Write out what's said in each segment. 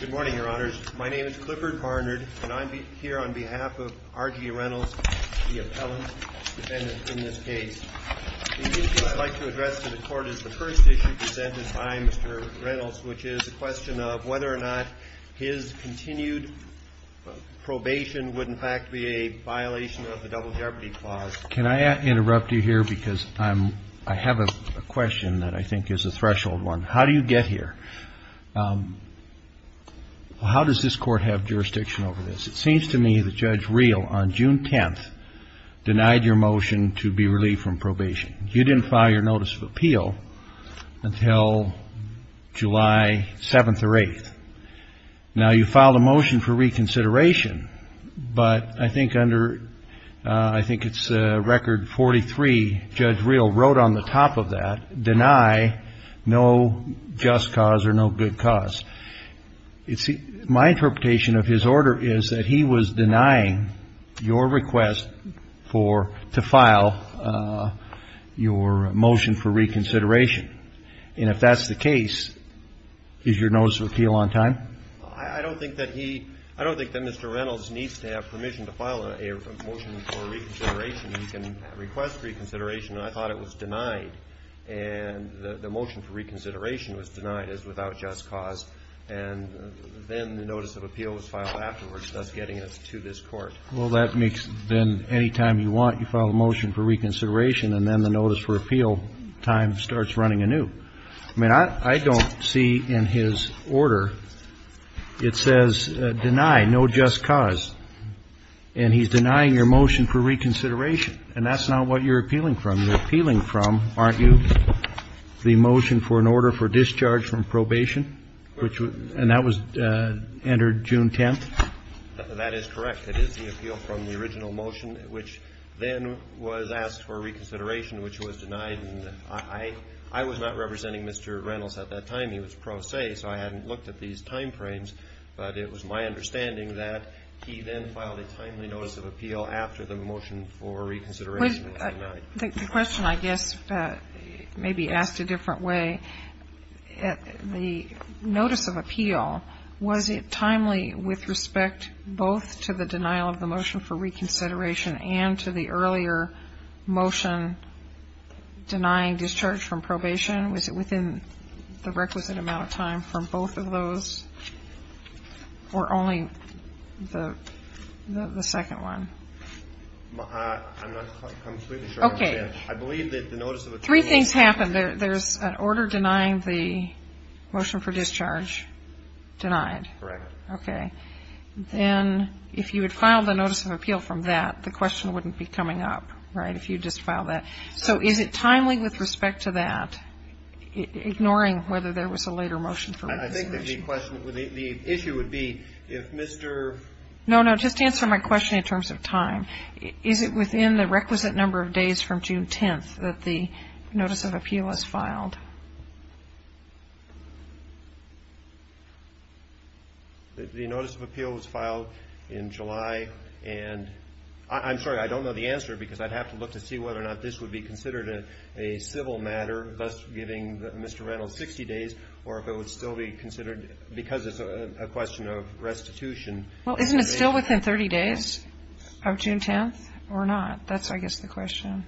Good morning, your honors. My name is Clifford Barnard, and I'm here on behalf of R. G. Reynolds, the appellant defendant in this case. The issue I'd like to address to the court is the first issue presented by Mr. Reynolds, which is a question of whether or not his continued probation would in fact be a violation of the double jeopardy clause. Can I interrupt you here, because I have a question that I think is a threshold one. How do you get here? How does this court have jurisdiction over this? It seems to me that Judge Reel, on June 10th, denied your motion to be relieved from probation. You didn't file your notice of appeal until July 7th or 8th. Now, you filed a motion for reconsideration, but I think under, I think it's record 43, Judge Reel wrote on the top of that, deny no just cause or no good cause. My interpretation of his order is that he was denying your request for, to file your motion for reconsideration. And if that's the case, is your notice of appeal on time? I don't think that he, I don't think that Mr. Reynolds needs to have permission to file a motion for reconsideration. He can request reconsideration, and I thought it was denied. And the motion for reconsideration was denied as without just cause. And then the notice of appeal was filed afterwards, thus getting it to this court. Well, that makes, then anytime you want, you file a motion for reconsideration, and then the notice for appeal time starts running anew. I mean, I don't see in his order, it says deny no just cause. And he's denying your motion for reconsideration. And that's not what you're appealing from. You're appealing from, aren't you, the motion for an order for discharge from probation, which was, and that was entered June 10th? That is correct. It is the appeal from the original motion, which then was asked for reconsideration, which was denied. And I was not representing Mr. Reynolds at that time. He was pro se, so I hadn't looked at these time frames. But it was my understanding that he then filed a timely notice of appeal after the motion for reconsideration was denied. The question, I guess, may be asked a different way. The notice of appeal, was it timely with respect both to the denial of the motion for reconsideration and to the earlier motion denying discharge from probation? Was it within the requisite amount of time for both of those, or only the second one? I'm not completely sure how to answer that. I believe that the notice of appeal... Three things happened. There's an order denying the motion for discharge denied. Correct. Okay. Then if you had filed a notice of appeal from that, the question wouldn't be coming up, right, if you just filed that. So is it timely with respect to that, ignoring whether there was a later motion for reconsideration? I think the issue would be if Mr. No, no. Just answer my question in terms of time. Is it within the requisite number of days from June 10th that the notice of appeal was filed? The notice of appeal was filed in July, and I'm sorry, I don't know the answer, because I'd have to look to see whether or not this would be considered a civil matter, thus giving Mr. Reynolds 60 days, or if it would still be considered, because it's a question of restitution. Well, isn't it still within 30 days of June 10th, or not? That's, I guess, the question.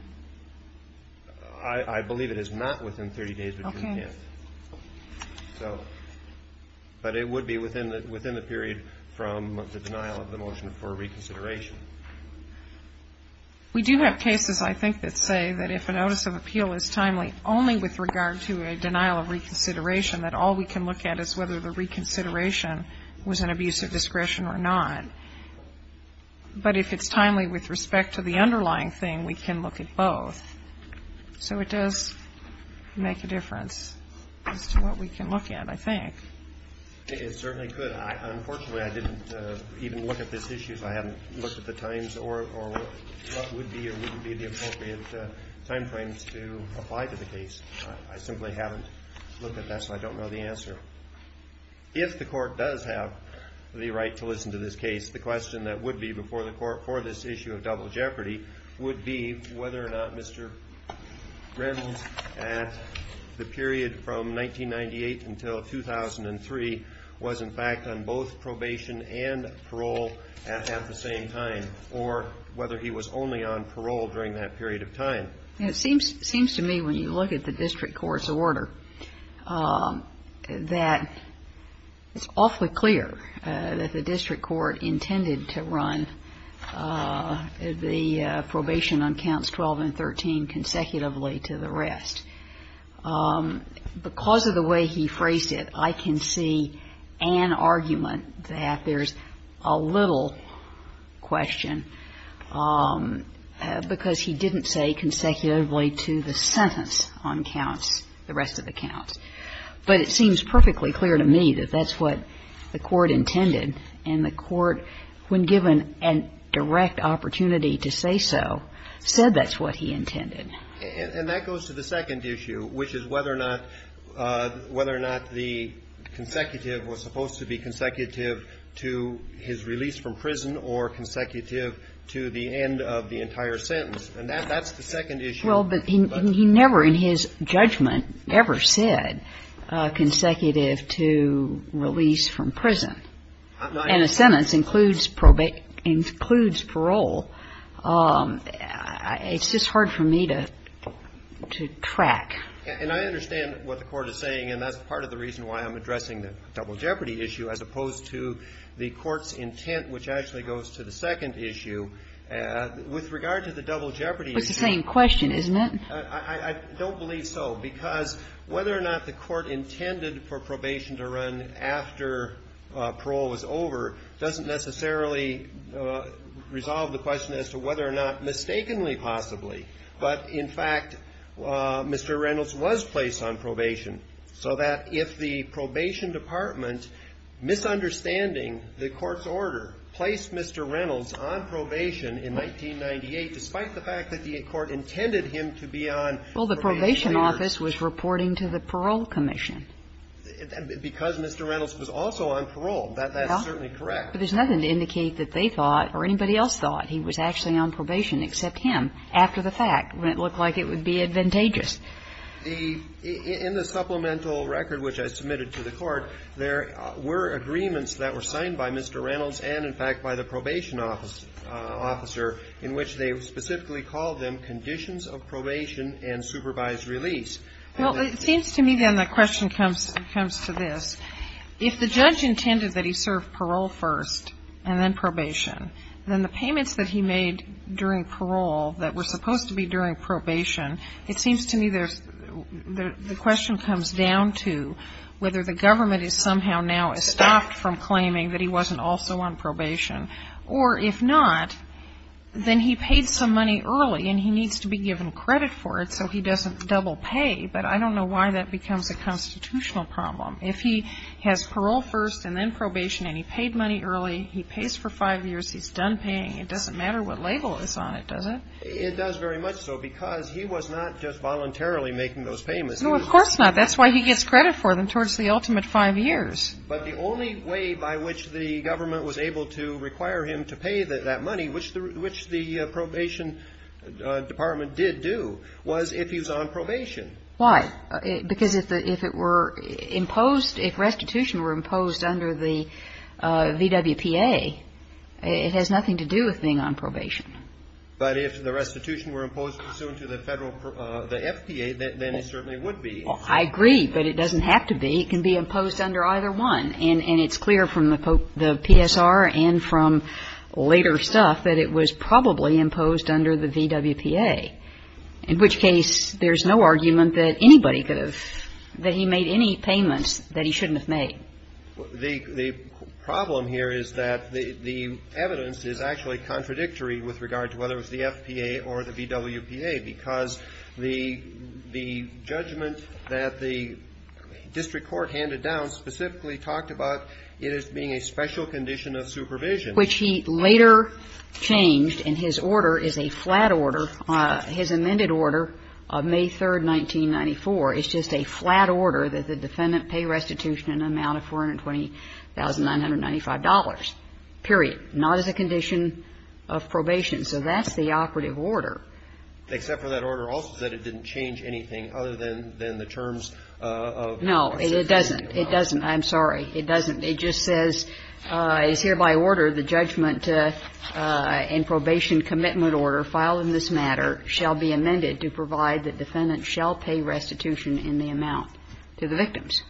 I believe it is not within 30 days of June 10th. Okay. So, but it would be within the period from the denial of the motion for reconsideration. We do have cases, I think, that say that if a notice of appeal is timely only with regard to a denial of reconsideration, that all we can look at is whether the reconsideration was an abuse of discretion or not. But if it's timely with respect to the underlying thing, we can look at both. So it does make a difference as to what we can look at, I think. It certainly could. Unfortunately, I didn't even look at this issue, so I haven't looked at the times or what would be or wouldn't be the appropriate time frames to apply to the case. I simply haven't looked at that, so I don't know the answer. If the court does have the right to listen to this case, the question that would be before the court for this issue of double jeopardy would be whether or not Mr. Reynolds, at the period from 1998 until 2003, was in fact on both probation and parole at the same time, or whether he was only on parole during that period of time. It seems to me, when you look at the district court's order, that it's awfully clear that the district court intended to run the probation on counts 12 and 13 consecutively to the rest. Because of the way he phrased it, I can see an argument that there's a little question, because he didn't say consecutively to the sentence on counts, the rest of the counts. But it seems perfectly clear to me that that's what the court intended, and the court, when given a direct opportunity to say so, said that's what he intended. And that goes to the second issue, which is whether or not the consecutive was supposed to be consecutive to his release from prison or consecutive to the end of the entire sentence. And that's the second issue. Well, but he never in his judgment ever said consecutive to release from prison. And a sentence includes parole. It's just hard for me to track. And I understand what the Court is saying, and that's part of the reason why I'm addressing the double jeopardy issue, as opposed to the Court's intent, which actually goes to the second issue. With regard to the double jeopardy issue. It's the same question, isn't it? I don't believe so. Because whether or not the Court intended for probation to run after parole was over doesn't necessarily resolve the question as to whether or not mistakenly possibly. But, in fact, Mr. Reynolds was placed on probation. So that if the probation department, misunderstanding the Court's order, placed Mr. Reynolds on probation in 1998, despite the fact that the Court intended him to be on probation later. So the question is whether or not Mr. Reynolds was reporting to the parole commission. Because Mr. Reynolds was also on parole. That's certainly correct. But there's nothing to indicate that they thought or anybody else thought he was actually on probation except him, after the fact, when it looked like it would be advantageous. In the supplemental record, which I submitted to the Court, there were agreements that were signed by Mr. Reynolds and, in fact, by the probation officer, in which they specifically called them conditions of probation and supervised release. Well, it seems to me, then, the question comes to this. If the judge intended that he serve parole first and then probation, then the payments that he made during parole that were supposed to be during probation, it seems to me the question comes down to whether the government is somehow now estopped from claiming that he wasn't also on probation. Or, if not, then he paid some money early and he needs to be given credit for it so he doesn't double pay. But I don't know why that becomes a constitutional problem. If he has parole first and then probation and he paid money early, he pays for five years, he's done paying. It doesn't matter what label is on it, does it? It does very much so because he was not just voluntarily making those payments. No, of course not. That's why he gets credit for them towards the ultimate five years. But the only way by which the government was able to require him to pay that money, which the probation department did do, was if he was on probation. Why? Because if it were imposed, if restitution were imposed under the VWPA, it has nothing to do with being on probation. But if the restitution were imposed pursuant to the Federal, the FPA, then it certainly would be. I agree, but it doesn't have to be. It can be imposed under either one. And it's clear from the PSR and from later stuff that it was probably imposed under the VWPA, in which case there's no argument that anybody could have, that he made any payments that he shouldn't have made. The problem here is that the evidence is actually contradictory with regard to whether it was the FPA or the VWPA, because the judgment that the district court handed down specifically talked about it as being a special condition of supervision. Which he later changed, and his order is a flat order, his amended order of May 3, 1994. It's just a flat order that the defendant pay restitution in an amount of $420,995, period. Not as a condition of probation. So that's the operative order. Except for that order also that it didn't change anything other than the terms of the supervision. No, it doesn't. It doesn't. I'm sorry. It doesn't. It just says, as hereby ordered, the judgment in probation commitment order filed in this matter shall be amended to provide that defendants shall pay restitution in the amount to the victims.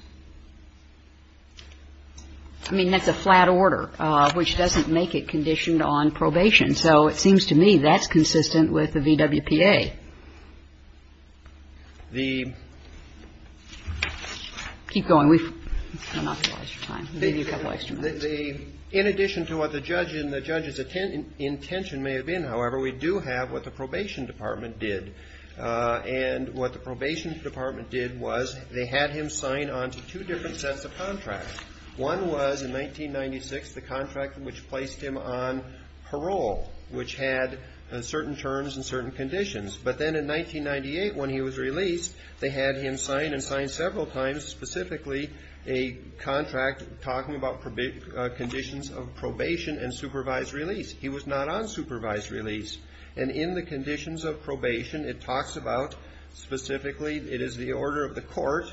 I mean, that's a flat order, which doesn't make it conditioned on probation. So it seems to me that's consistent with the VWPA. The keep going. We've run out of time. Maybe a couple of extra minutes. In addition to what the judge and the judge's intention may have been, however, we do have what the probation department did. And what the probation department did was they had him sign on to two different sets of contracts. One was in 1996, the contract which placed him on parole, which had certain terms and certain conditions. But then in 1998, when he was released, they had him sign and sign several times, specifically a contract talking about conditions of probation and supervised release. He was not on supervised release. And in the conditions of probation, it talks about specifically it is the order of the court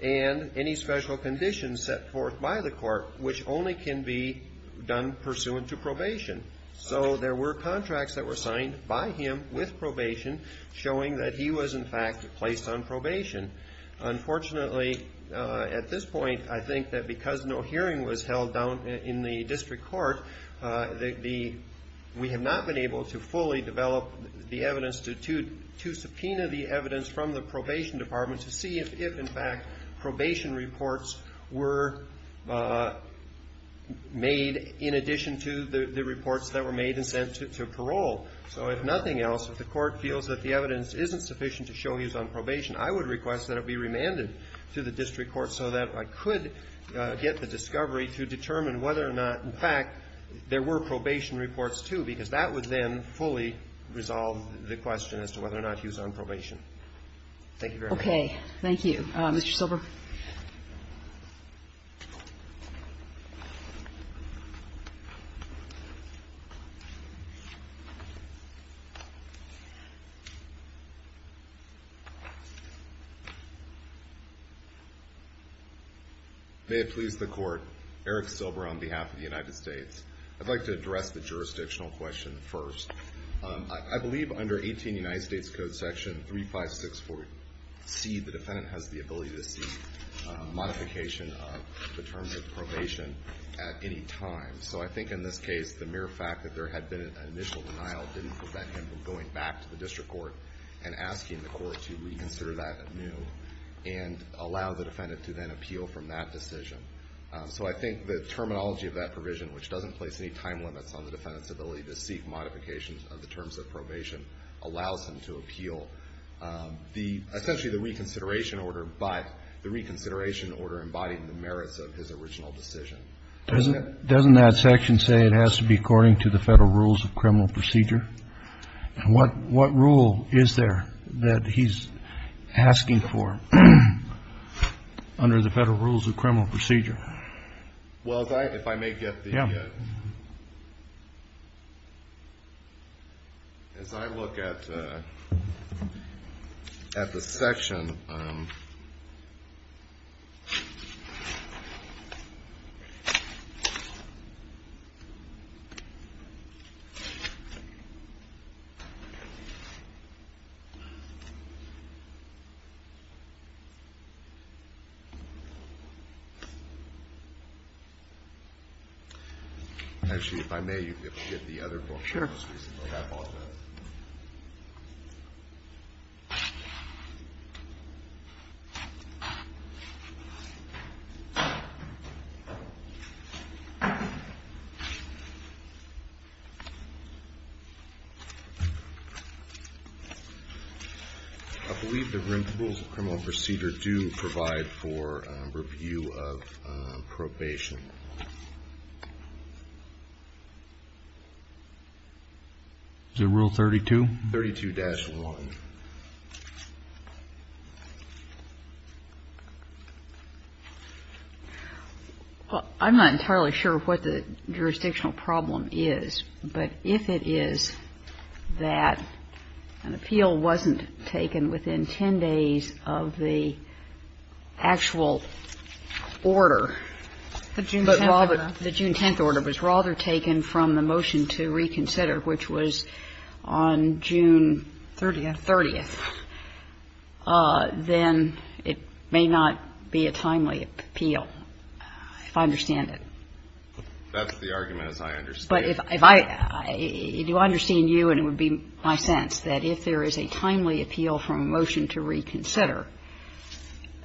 and any special conditions set forth by the court which only can be done pursuant to probation. So there were contracts that were signed by him with probation showing that he was, in fact, placed on probation. Unfortunately, at this point, I think that because no hearing was held down in the district court, we have not been able to fully develop the evidence to subpoena the evidence from the probation department to see if, in fact, probation reports were made in addition to the reports that were made and sent to parole. So if nothing else, if the court feels that the evidence isn't sufficient to show he was on probation, I would request that it be remanded to the district court so that I could get the discovery to determine whether or not, in fact, there were probation reports, too, because that would then fully resolve the question as to whether or not he was on probation. Thank you very much. Okay. Thank you. Mr. Silber. May it please the Court. Eric Silber on behalf of the United States. I'd like to address the jurisdictional question first. I believe under 18 United States Code Section 3564C, the defendant has the ability to seek modification of the terms of probation at any time. So I think in this case, the mere fact that there had been an initial denial didn't prevent him from going back to the district court and asking the court to reinsert that anew and allow the defendant to then appeal from that decision. So I think the terminology of that provision, which doesn't place any time limits on the defendant's ability to seek modifications of the terms of probation, allows him to appeal essentially the reconsideration order, but the reconsideration order embodying the merits of his original decision. Doesn't that section say it has to be according to the federal rules of criminal procedure? And what rule is there that he's asking for under the federal rules of criminal procedure? Well, if I may get the – as I look at the section. Actually, if I may, you can get the other book. Sure. I believe the rules of criminal procedure do provide for review of probation. Is it Rule 32? 32-1. Well, I'm not entirely sure what the jurisdictional problem is. But if it is that an appeal wasn't taken within 10 days of the actual order. The June 10th order. The June 10th order was rather taken from the motion to reconsider, which was on June 30th. Then it may not be a timely appeal, if I understand it. That's the argument, as I understand it. But if I – if I understand you and it would be my sense that if there is a timely appeal from a motion to reconsider,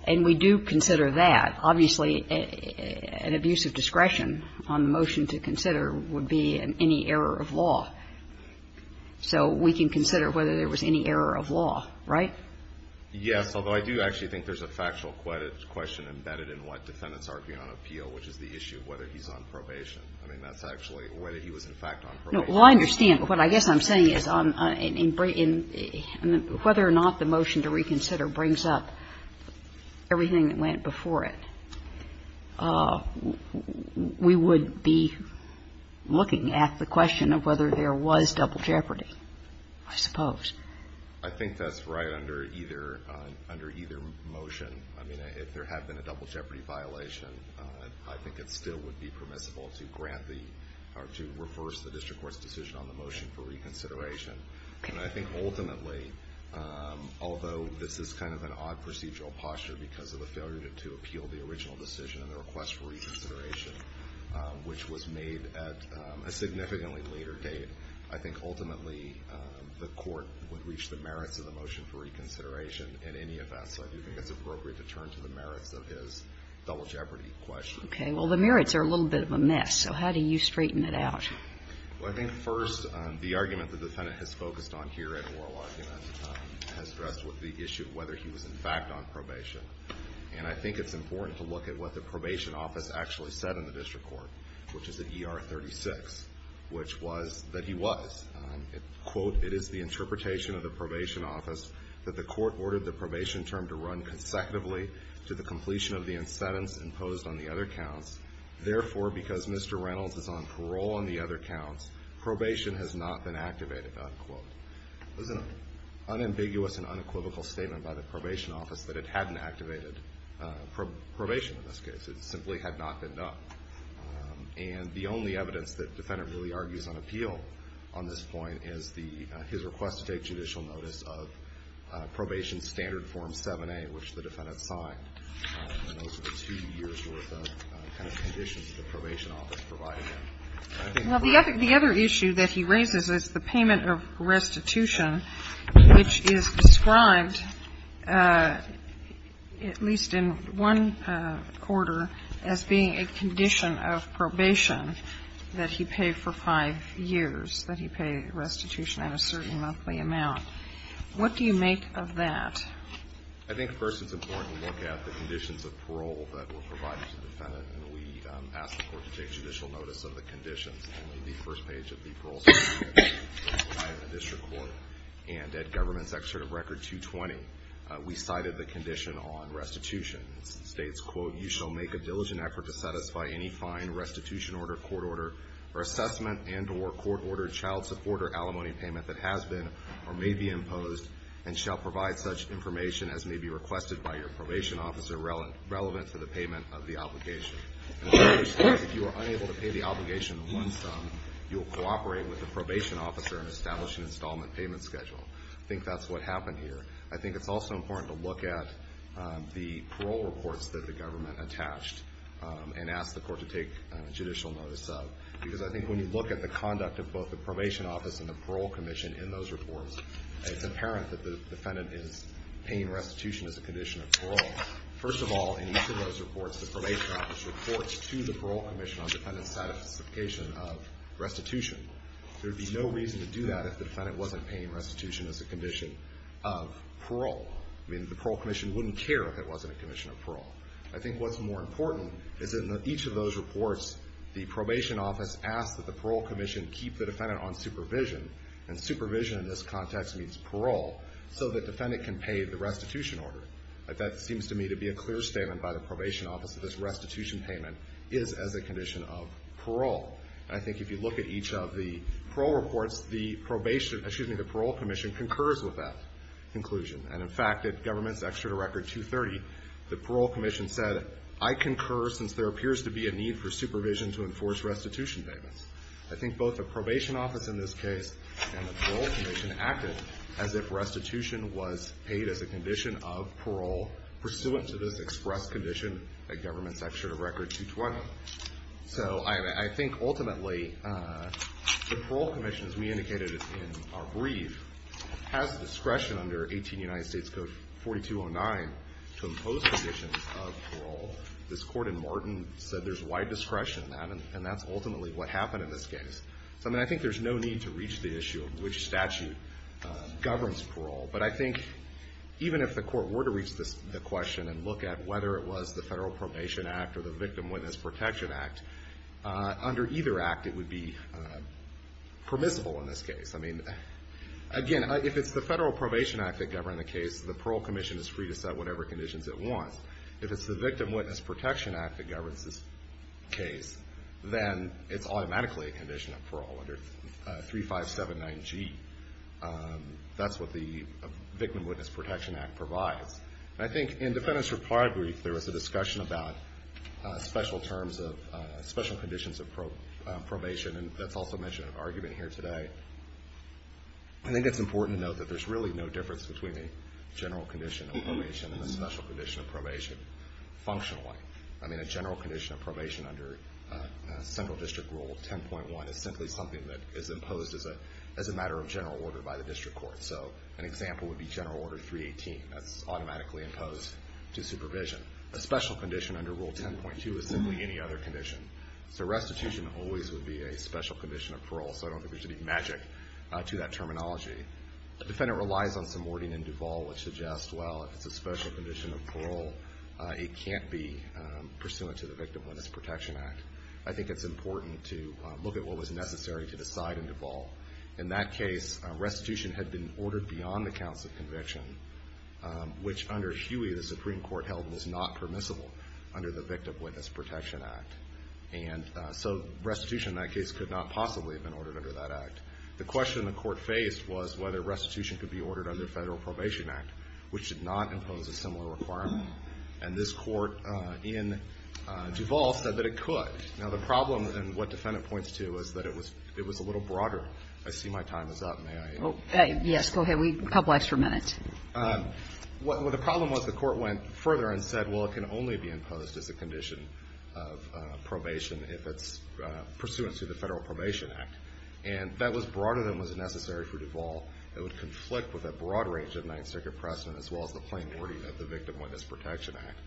and we do consider that, obviously, an abuse of discretion on the motion to consider would be any error of law. So we can consider whether there was any error of law, right? Yes, although I do actually think there's a factual question embedded in what defendants are arguing on appeal, which is the issue of whether he's on probation. I mean, that's actually whether he was in fact on probation. No. Well, I understand. But what I guess I'm saying is whether or not the motion to reconsider brings up everything that went before it, we would be looking at the question of whether there was double jeopardy, I suppose. I think that's right under either – under either motion. I mean, if there had been a double jeopardy violation, I think it still would be permissible to grant the – or to reverse the district court's decision on the motion for reconsideration. Okay. And I think ultimately, although this is kind of an odd procedural posture because of the failure to appeal the original decision and the request for reconsideration, which was made at a significantly later date, I think ultimately the Court would reach the merits of the motion for reconsideration in any event. So I do think it's appropriate to turn to the merits of his double jeopardy question. Okay. Well, the merits are a little bit of a mess. So how do you straighten it out? Well, I think first the argument the Defendant has focused on here at Oro Lodge, you know, has addressed the issue of whether he was in fact on probation. And I think it's important to look at what the probation office actually said in the district court, which is at ER 36, which was that he was. Quote, it is the interpretation of the probation office that the court ordered the probation term to run consecutively to the completion of the incentives imposed on the other counts. Therefore, because Mr. Reynolds is on parole on the other counts, probation has not been activated, unquote. It was an unambiguous and unequivocal statement by the probation office that it hadn't activated probation in this case. It simply had not been done. And the only evidence that the Defendant really argues on appeal on this point is his request to take judicial notice of probation standard form 7A, which the probation office provided him. Well, the other issue that he raises is the payment of restitution, which is described at least in one quarter as being a condition of probation that he paid for five years, that he paid restitution at a certain monthly amount. What do you make of that? I think first it's important to look at the conditions of parole that were provided to the Defendant, and we asked the court to take judicial notice of the conditions in the first page of the parole certificate provided in the district court. And at Government's Excerpt of Record 220, we cited the condition on restitution. It states, quote, you shall make a diligent effort to satisfy any fine, restitution order, court order, or assessment, and or court order, child support, or alimony payment that has been or may be imposed and shall provide such information as may be requested by your probation officer relevant to the payment of the obligation. In other words, if you are unable to pay the obligation in one sum, you will cooperate with the probation officer in establishing an installment payment schedule. I think that's what happened here. I think it's also important to look at the parole reports that the government attached and ask the court to take judicial notice of, because I think when you look at the conduct of both the probation office and the parole commission in those reports, it's apparent that the defendant is paying restitution as a condition of parole. First of all, in each of those reports, the probation office reports to the parole commission on defendant's satisfaction of restitution. There would be no reason to do that if the defendant wasn't paying restitution as a condition of parole. I mean, the parole commission wouldn't care if it wasn't a condition of parole. I think what's more important is that in each of those reports, the probation office asks that the parole commission keep the defendant on supervision, and parole, so the defendant can pay the restitution order. That seems to me to be a clear statement by the probation office that this restitution payment is as a condition of parole. I think if you look at each of the parole reports, the probation, excuse me, the parole commission concurs with that conclusion. And in fact, the government's extra to record 230, the parole commission said, I concur since there appears to be a need for supervision to enforce restitution payments. I think both the probation office in this case and the parole commission acted as if restitution was paid as a condition of parole pursuant to this express condition that government's extra to record 220. So I think ultimately, the parole commission, as we indicated in our brief, has discretion under 18 United States Code 4209 to impose conditions of parole. This court in Martin said there's wide discretion in that, and that's ultimately what happened in this case. So I mean, I think there's no need to reach the issue of which statute governs parole. But I think even if the court were to reach the question and look at whether it was the Federal Probation Act or the Victim Witness Protection Act, under either act, it would be permissible in this case. I mean, again, if it's the Federal Probation Act that governed the case, the parole commission is free to set whatever conditions it wants. If it's the Victim Witness Protection Act that governs this case, then it's automatically a condition of parole under 3579G. That's what the Victim Witness Protection Act provides. And I think in defendant's reply brief, there was a discussion about special terms of special conditions of probation, and that's also mentioned in argument here today. I think it's important to note that there's really no difference between a special condition of probation functionally. I mean, a general condition of probation under Central District Rule 10.1 is simply something that is imposed as a matter of general order by the district court. So an example would be General Order 318. That's automatically imposed to supervision. A special condition under Rule 10.2 is simply any other condition. So restitution always would be a special condition of parole. So I don't think there should be magic to that terminology. The defendant relies on some wording in Duval which suggests, well, if it's a special condition of parole, it can't be pursuant to the Victim Witness Protection Act. I think it's important to look at what was necessary to decide in Duval. In that case, restitution had been ordered beyond the counts of conviction, which under Huey the Supreme Court held was not permissible under the Victim Witness Protection Act. And so restitution in that case could not possibly have been ordered under that act. The question the court faced was whether restitution could be ordered under the Federal Probation Act, which did not impose a similar requirement. And this court in Duval said that it could. Now, the problem, and what the defendant points to, is that it was a little broader. I see my time is up. May I? Yes, go ahead. We have a couple extra minutes. Well, the problem was the court went further and said, well, it can only be imposed as a condition of probation if it's pursuant to the Federal Probation Act. And that was broader than was necessary for Duval. It would conflict with a broad range of Ninth Circuit precedent, as well as the plain wording of the Victim Witness Protection Act.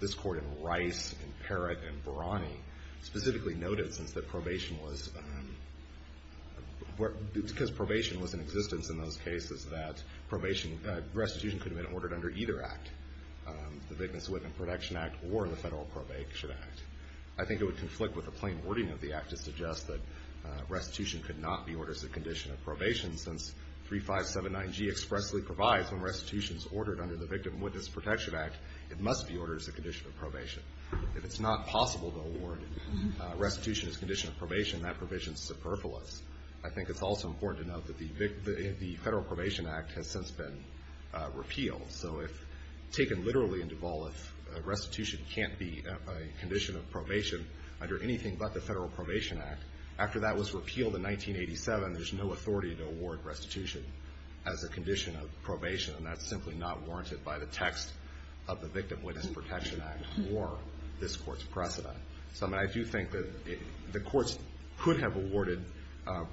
This court in Rice, in Parrott, and Brani specifically noted, since the probation was in existence in those cases, that restitution could have been ordered under either act, the Victim's Witness Protection Act or the Federal Probation Act. I think it would conflict with the plain wording of the act to suggest that restitution should not be ordered as a condition of probation, since 3579G expressly provides when restitution is ordered under the Victim's Witness Protection Act, it must be ordered as a condition of probation. If it's not possible to award restitution as a condition of probation, that provision is superfluous. I think it's also important to note that the Federal Probation Act has since been repealed. So if taken literally in Duval, if restitution can't be a condition of probation under anything but the Federal Probation Act, after that was repealed in 1987, there's no authority to award restitution as a condition of probation. And that's simply not warranted by the text of the Victim's Witness Protection Act or this Court's precedent. So, I mean, I do think that the courts could have awarded,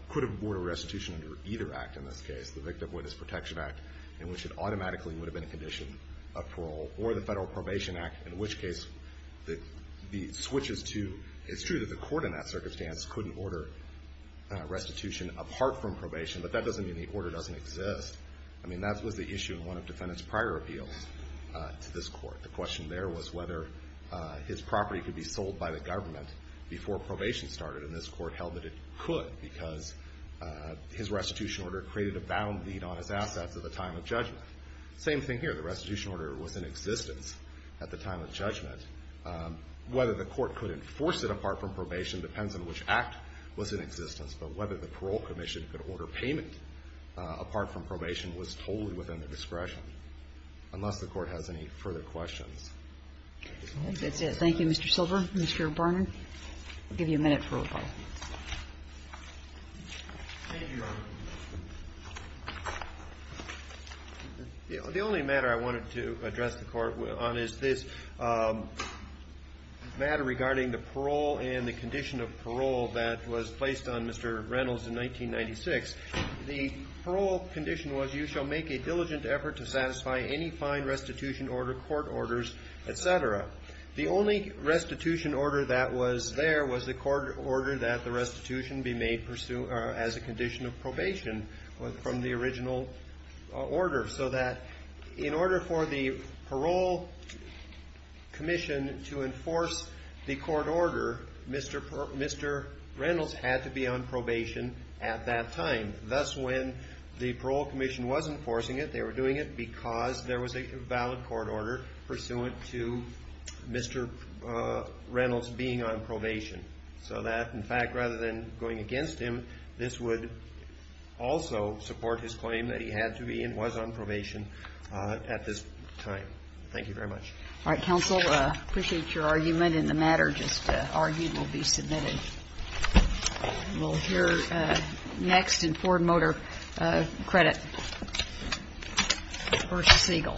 could have awarded restitution under either act in this case, the Victim's Witness Protection Act, in which it automatically would have been a condition of parole, or the Federal Probation Act, which is to, it's true that the court in that circumstance couldn't order restitution apart from probation, but that doesn't mean the order doesn't exist. I mean, that was the issue in one of the defendant's prior appeals to this court. The question there was whether his property could be sold by the government before probation started. And this court held that it could because his restitution order created a bound deed on his assets at the time of judgment. Same thing here. The restitution order was in existence at the time of judgment. Whether the court could enforce it apart from probation depends on which act was in existence. But whether the Parole Commission could order payment apart from probation was totally within the discretion, unless the Court has any further questions. That's it. Thank you, Mr. Silver. Mr. Barnard, I'll give you a minute for rebuttal. Thank you, Your Honor. The only matter I wanted to address the Court on is this matter regarding the parole and the condition of parole that was placed on Mr. Reynolds in 1996. The parole condition was you shall make a diligent effort to satisfy any fine restitution order, court orders, et cetera. The only restitution order that was there was the court order that the restitution be made as a condition of probation from the original order so that in order for the Parole Commission to enforce the court order, Mr. Reynolds had to be on probation at that time. Thus, when the Parole Commission was enforcing it, they were doing it because there was a valid court order pursuant to Mr. Reynolds being on probation. So that, in fact, rather than going against him, this would also support his claim that he had to be and was on probation at this time. Thank you very much. All right. Counsel, I appreciate your argument, and the matter just argued will be submitted. We'll hear next in Ford Motor Credit versus Siegel. Thank you.